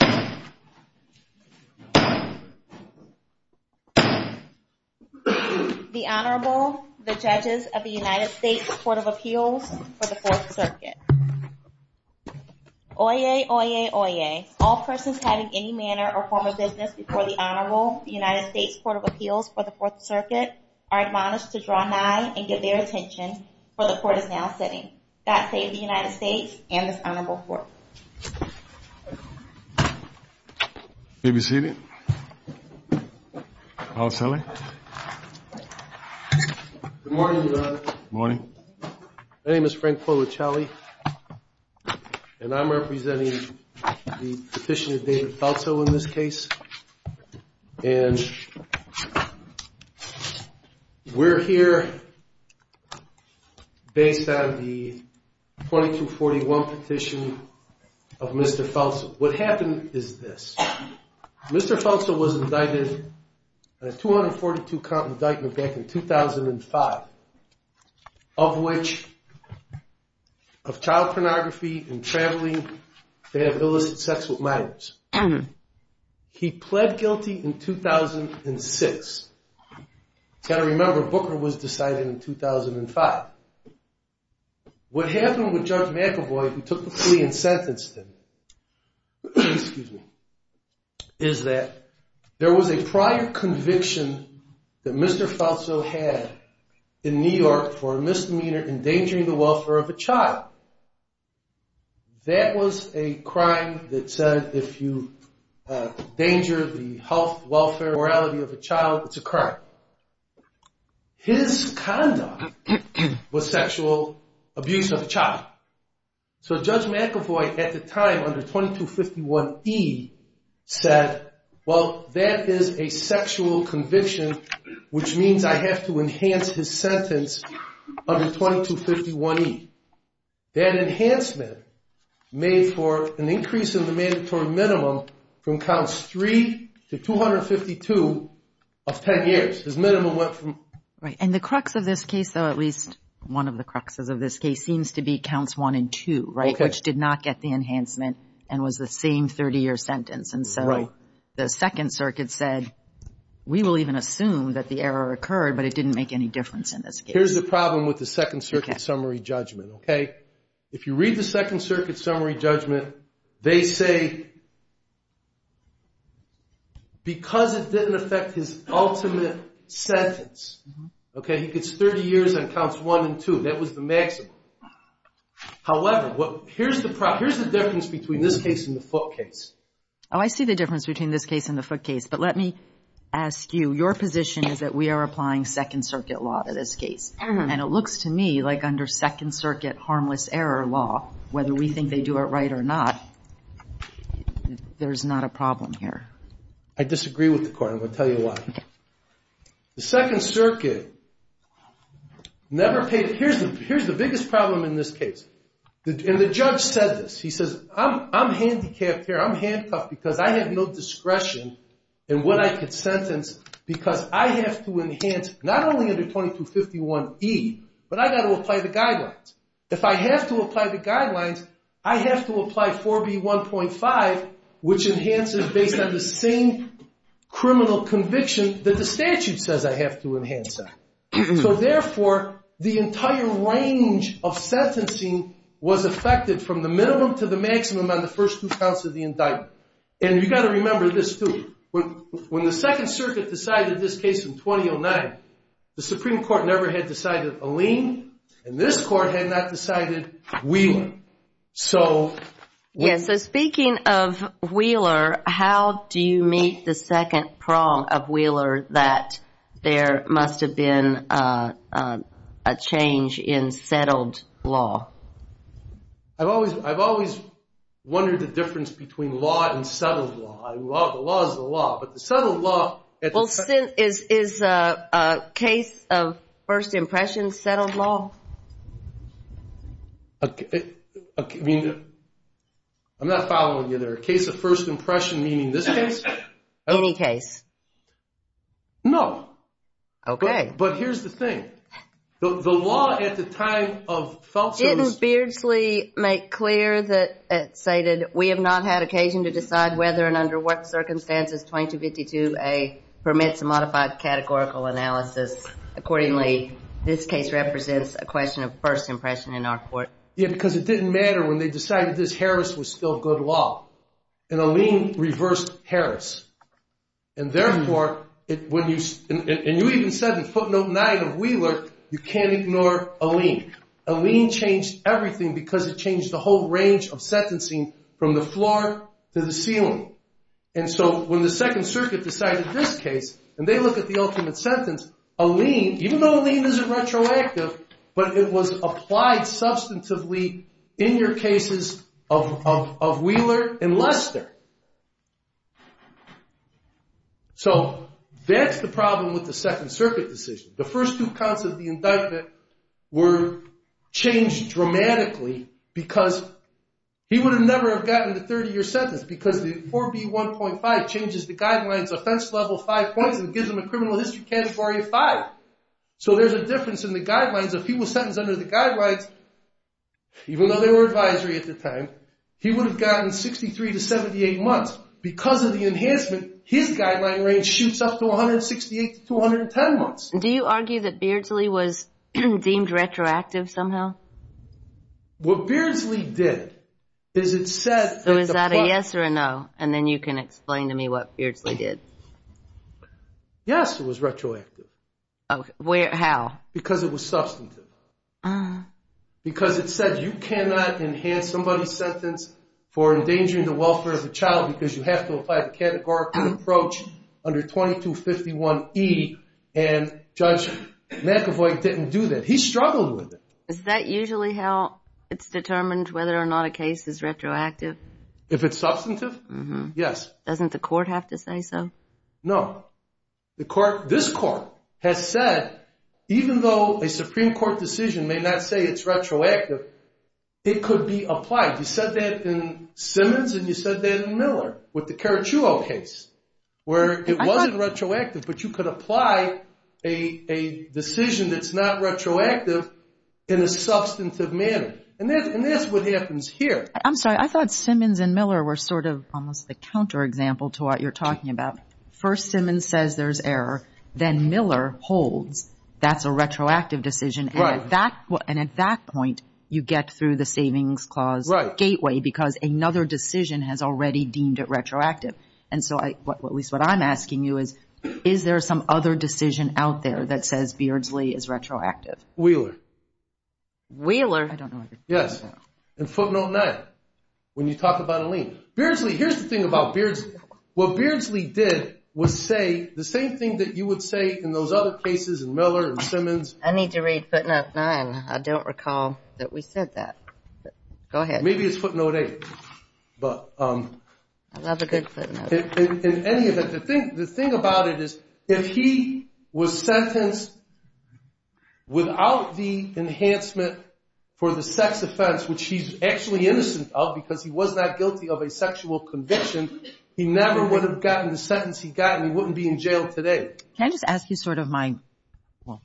The Honorable, the Judges of the United States Court of Appeals for the 4th Circuit. Oyez, oyez, oyez. All persons having any manner or form of business before the Honorable, the United States Court of Appeals for the 4th Circuit are admonished to draw nigh and get their attention, for the Court is now sitting. God save the United States and this Honorable Court. May we sit down? Good morning. My name is Frank Polichelli and I'm representing the petition of David Falso in this case. And we're here based on the 2241 petition of Mr. Falso. What happened is this. Mr. Falso was indicted on a 242 count indictment back in 2005, of which, of child pornography and traveling, they have illicit sex with minors. He pled guilty in 2006. You've got to remember, Booker was decided in 2005. What happened with Judge McAvoy, who took the plea and sentenced him, is that there was a prior conviction that Mr. Falso had in New York for a misdemeanor endangering the welfare of a child. That was a crime that said if you endanger the health, welfare, morality of a child, it's a crime. His conduct was sexual abuse of a child. So Judge McAvoy, at the time, under 2251E, said, well, that is a sexual conviction, which means I have to enhance his sentence under 2251E. That enhancement made for an increase in the mandatory minimum from counts 3 to 252 of 10 years. His minimum went from... Right. And the crux of this case, though, at least one of the cruxes of this case, seems to be counts 1 and 2, right, which did not get the enhancement and was the same 30-year sentence. And so the Second Circuit said, we will even assume that the error occurred, but it didn't make any difference in this case. Here's the problem with the Second Circuit summary judgment, OK? If you read the Second Circuit summary judgment, they say because it didn't affect his ultimate sentence, OK, he gets 30 years on counts 1 and 2. That was the maximum. However, here's the problem. Here's the difference between this case and the Foote case. Oh, I see the difference between this case and the Foote case. But let me ask you, your position is that we are applying Second Circuit law to this case. And it looks to me like under Second Circuit harmless error law, whether we think they do it right or not, there's not a problem here. I disagree with the court. I'm going to tell you why. The Second Circuit never paid... Here's the biggest problem in this case. And the judge said this. He says, I'm handicapped here. I'm handcuffed because I have no discretion in what I could sentence because I have to enhance not only under 2251E, but I got to apply the guidelines. If I have to apply the guidelines, I have to apply 4B1.5, which enhances based on the same criminal conviction that the statute says I have to enhance that. So therefore, the entire range of sentencing was affected from the minimum to the maximum on the first two counts of the indictment. And you've got to remember this, too. When the Second Circuit decided this case in 2009, the Supreme Court never had decided Alleen, and this court had not decided Wheeler. So speaking of Wheeler, how do you meet the second prong of Wheeler that there must have been a change in settled law? I've always wondered the difference between law and settled law. The law is the law, but the settled law... Is a case of first impression settled law? I mean, I'm not following you there. A case of first impression, meaning this case? Any case. No. Okay. But here's the thing. The law at the time of... Judge Itten-Beardsley made clear that it stated, we have not had occasion to decide whether and under what circumstances 2252A permits a modified categorical analysis. Accordingly, this case represents a question of first impression in our court. Yeah, because it didn't matter when they decided this Harris was still good law. And Alleen reversed Harris. And therefore, when you... And you even said in footnote 9 of Wheeler, you can't ignore Alleen. Alleen changed everything because it changed the whole range of sentencing from the floor to the ceiling. And so when the Second Circuit decided this case, and they look at the ultimate sentence, Alleen, even though Alleen isn't retroactive, but it was applied substantively in your cases of Wheeler and Lester. So that's the problem with the Second Circuit decision. The first two counts of the indictment were changed dramatically because he would have never have gotten the 30-year sentence because the 4B1.5 changes the guidelines offense level five points and gives them a criminal history category of five. So there's a difference in the guidelines. If he was sentenced under the guidelines, even though they were advisory at the time, he would have gotten 63 to 78 months. Because of the enhancement, his guideline range shoots up to 168 to 210 months. Do you argue that Beardsley was deemed retroactive somehow? What Beardsley did is it said... So is that a yes or a no? And then you can explain to me what Beardsley did. Yes, it was retroactive. How? Because it was substantive. Because it said you cannot enhance somebody's sentence for endangering the welfare of the child because you have to apply the categorical approach under 2251E. And Judge McEvoy didn't do that. He struggled with it. Is that usually how it's determined whether or not a case is retroactive? If it's substantive? Yes. Doesn't the court have to say so? No. The court, this court, has said even though a Supreme Court decision may not say it's retroactive, it could be applied. You said that in Simmons and you said that in Miller with the Karachuo case where it wasn't retroactive, but you could apply a decision that's not retroactive in a substantive manner. And that's what happens here. I'm sorry, I thought Simmons and Miller were sort of almost the counterexample to what you're talking about. First, Simmons says there's error. Then Miller holds that's a retroactive decision. And at that point, you get through the savings clause gateway because another decision has already deemed it retroactive. And so at least what I'm asking you is, is there some other decision out there that says Beardsley is retroactive? Wheeler. Wheeler? I don't know. Yes. In footnote 9, when you talk about a lien. Beardsley, here's the thing about Beardsley. What Beardsley did was say the same thing that you would say in those other cases in Miller and Simmons. I need to read footnote 9. I don't recall that we said that. Go ahead. Maybe it's footnote 8. I love a good footnote. In any event, the thing about it is if he was sentenced without the enhancement for the sex offense, which he's actually innocent of because he was not guilty of a sexual conviction, he never would have gotten the sentence he got and he wouldn't be in jail today. Can I just ask you sort of my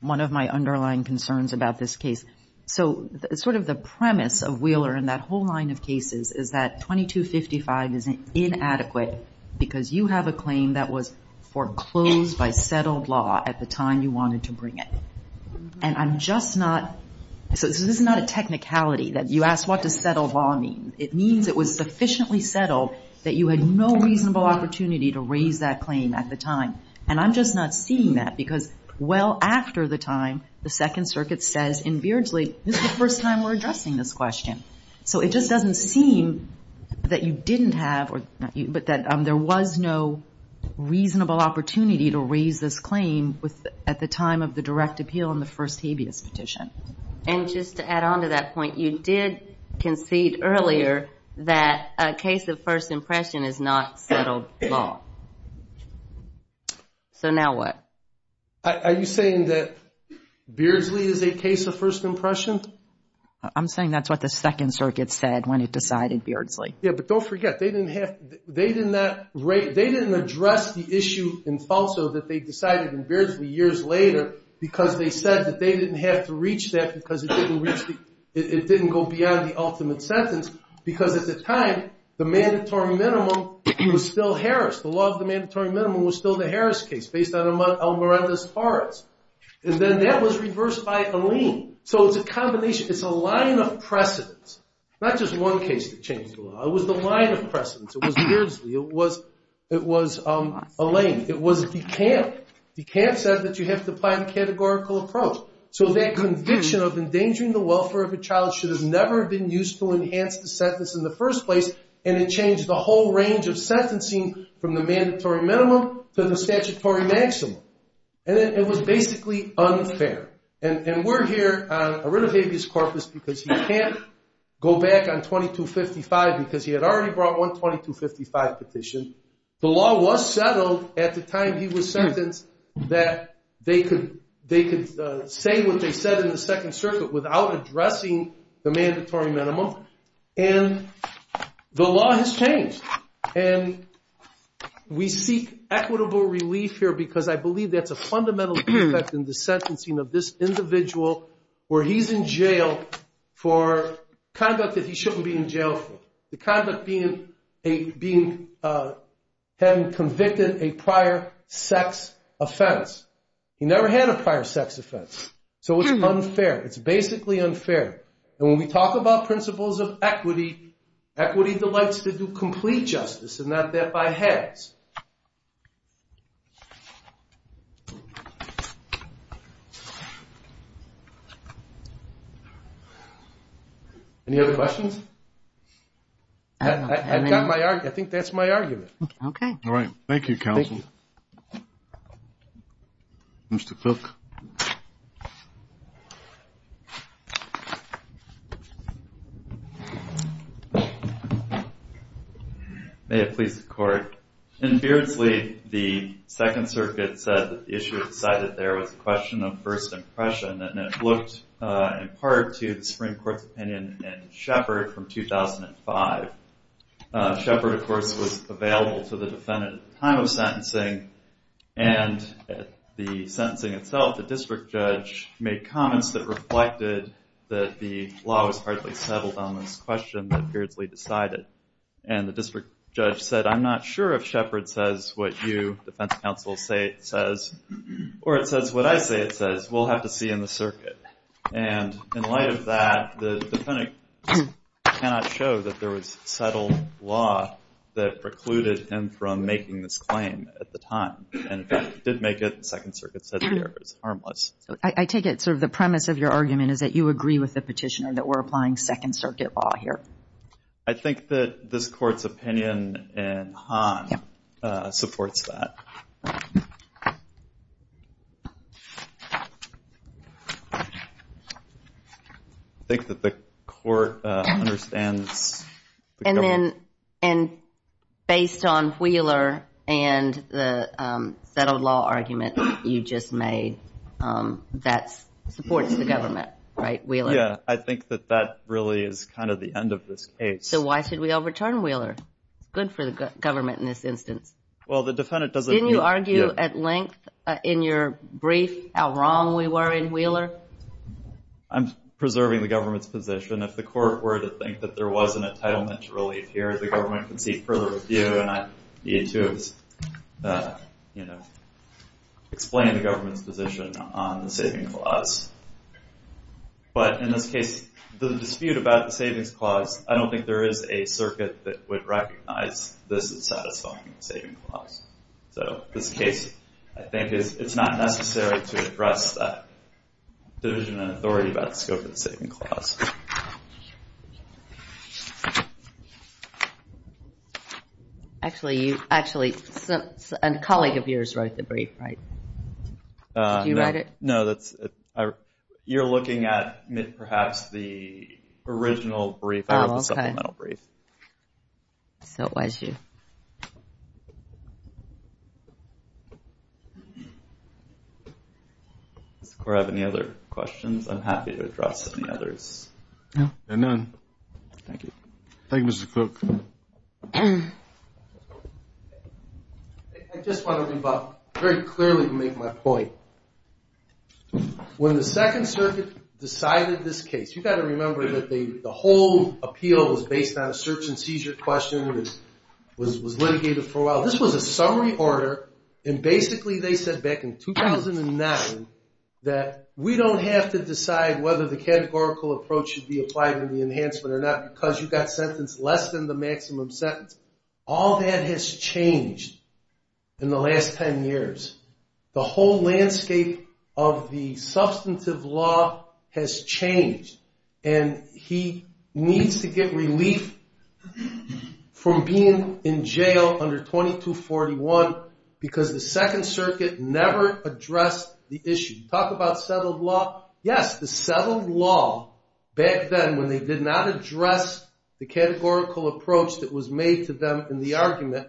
one of my underlying concerns about this case? So sort of the premise of Wheeler in that whole line of cases is that 2255 is inadequate because you have a claim that was foreclosed by settled law at the time you wanted to bring it. And I'm just not so this is not a technicality that you ask what does settled law mean. It means it was sufficiently settled that you had no reasonable opportunity to raise that claim at the time. And I'm just not seeing that because well after the time the Second Circuit says in Beardsley, this is the first time we're addressing this question. So it just doesn't seem that you didn't have or that there was no reasonable opportunity to raise this claim at the time of the direct appeal and the first habeas petition. And just to add on to that point, you did concede earlier that a case of first impression is not settled law. So now what? Are you saying that Beardsley is a case of first impression? I'm saying that's what the Second Circuit said when it decided Beardsley. Yeah, but don't forget they didn't address the issue in Falso that they decided in Beardsley years later because they said that they didn't have to reach that because it didn't go beyond the ultimate sentence because at the time the mandatory minimum was still Harris. The law of the mandatory minimum was still the Harris case based on Elmireta's parts. And then that was reversed by Alene. So it's a combination. It's a line of precedence, not just one case that changed the law. It was the line of precedence. It was Beardsley. It was Alene. It was DeKalb. DeKalb said that you have to apply the categorical approach. So that conviction of endangering the welfare of a child should have never been used to enhance the sentence in the first place, and it changed the whole range of sentencing from the mandatory minimum to the statutory maximum. And it was basically unfair. And we're here on Arinovavius Corpus because he can't go back on 2255 because he had already brought one 2255 petition. The law was settled at the time he was sentenced that they could say what they said in the Second Circuit without addressing the mandatory minimum, and the law has changed. And we seek equitable relief here because I believe that's a fundamental defect in the sentencing of this individual where he's in jail for conduct that he shouldn't be in jail for, the conduct having convicted a prior sex offense. He never had a prior sex offense, so it's unfair. It's basically unfair. And when we talk about principles of equity, equity delights to do complete justice and not that by halves. Any other questions? I've got my argument. I think that's my argument. Okay. All right. Thank you, counsel. Thank you. Mr. Cook. May it please the Court. In Beardsley, the Second Circuit said that the issue decided there was a question of first impression, and it looked in part to the Supreme Court's opinion in Shepard from 2005. Shepard, of course, was available to the defendant at the time of sentencing, and at the sentencing itself, the district judge made comments that reflected that the law was hardly settled on this question that Beardsley decided. And the district judge said, I'm not sure if Shepard says what you, defense counsel, say it says, or it says what I say it says. We'll have to see in the circuit. And in light of that, the defendant cannot show that there was settled law that precluded him from making this claim at the time, and, in fact, did make it. The Second Circuit said the error is harmless. I take it sort of the premise of your argument is that you agree with the petitioner that we're applying Second Circuit law here. I think that this Court's opinion in Hahn supports that. I think that the Court understands the government. And based on Wheeler and the settled law argument you just made, that supports the government, right, Wheeler? Yeah, I think that that really is kind of the end of this case. So why should we overturn Wheeler? It's good for the government in this instance. Didn't you argue at length in your brief how wrong we were in Wheeler? I'm preserving the government's position. Even if the Court were to think that there was an entitlement to relief here, the government could seek further review. And you, too, have explained the government's position on the saving clause. But in this case, the dispute about the savings clause, I don't think there is a circuit that would recognize this as satisfying the saving clause. So in this case, I think it's not necessary to address that division of authority about the scope of the saving clause. Actually, a colleague of yours wrote the brief, right? Did you write it? No, you're looking at perhaps the original brief. I wrote the supplemental brief. So it was you. Does the Court have any other questions? I'm happy to address any others. No, there are none. Thank you. Thank you, Mr. Cook. I just want to very clearly make my point. When the Second Circuit decided this case, you've got to remember that the whole appeal was based on a search and seizure question. It was litigated for a while. This was a summary order, and basically they said back in 2009 that we don't have to decide whether the categorical approach should be applied in the enhancement or not because you got sentenced less than the maximum sentence. All that has changed in the last ten years. The whole landscape of the substantive law has changed, and he needs to get relief from being in jail under 2241 because the Second Circuit never addressed the issue. Talk about settled law. Yes, the settled law back then when they did not address the categorical approach that was made to them in the argument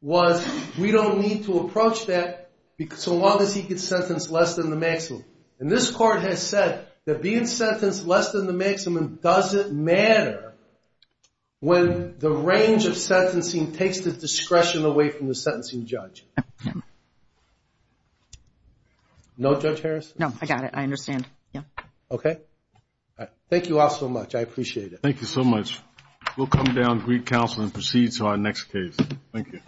was we don't need to approach that so long as he gets sentenced less than the maximum. And this Court has said that being sentenced less than the maximum doesn't matter when the range of sentencing takes the discretion away from the sentencing judge. No, Judge Harris? No, I got it. I understand. Okay. Thank you all so much. I appreciate it. Thank you so much. We'll come down, greet counsel, and proceed to our next case. Thank you.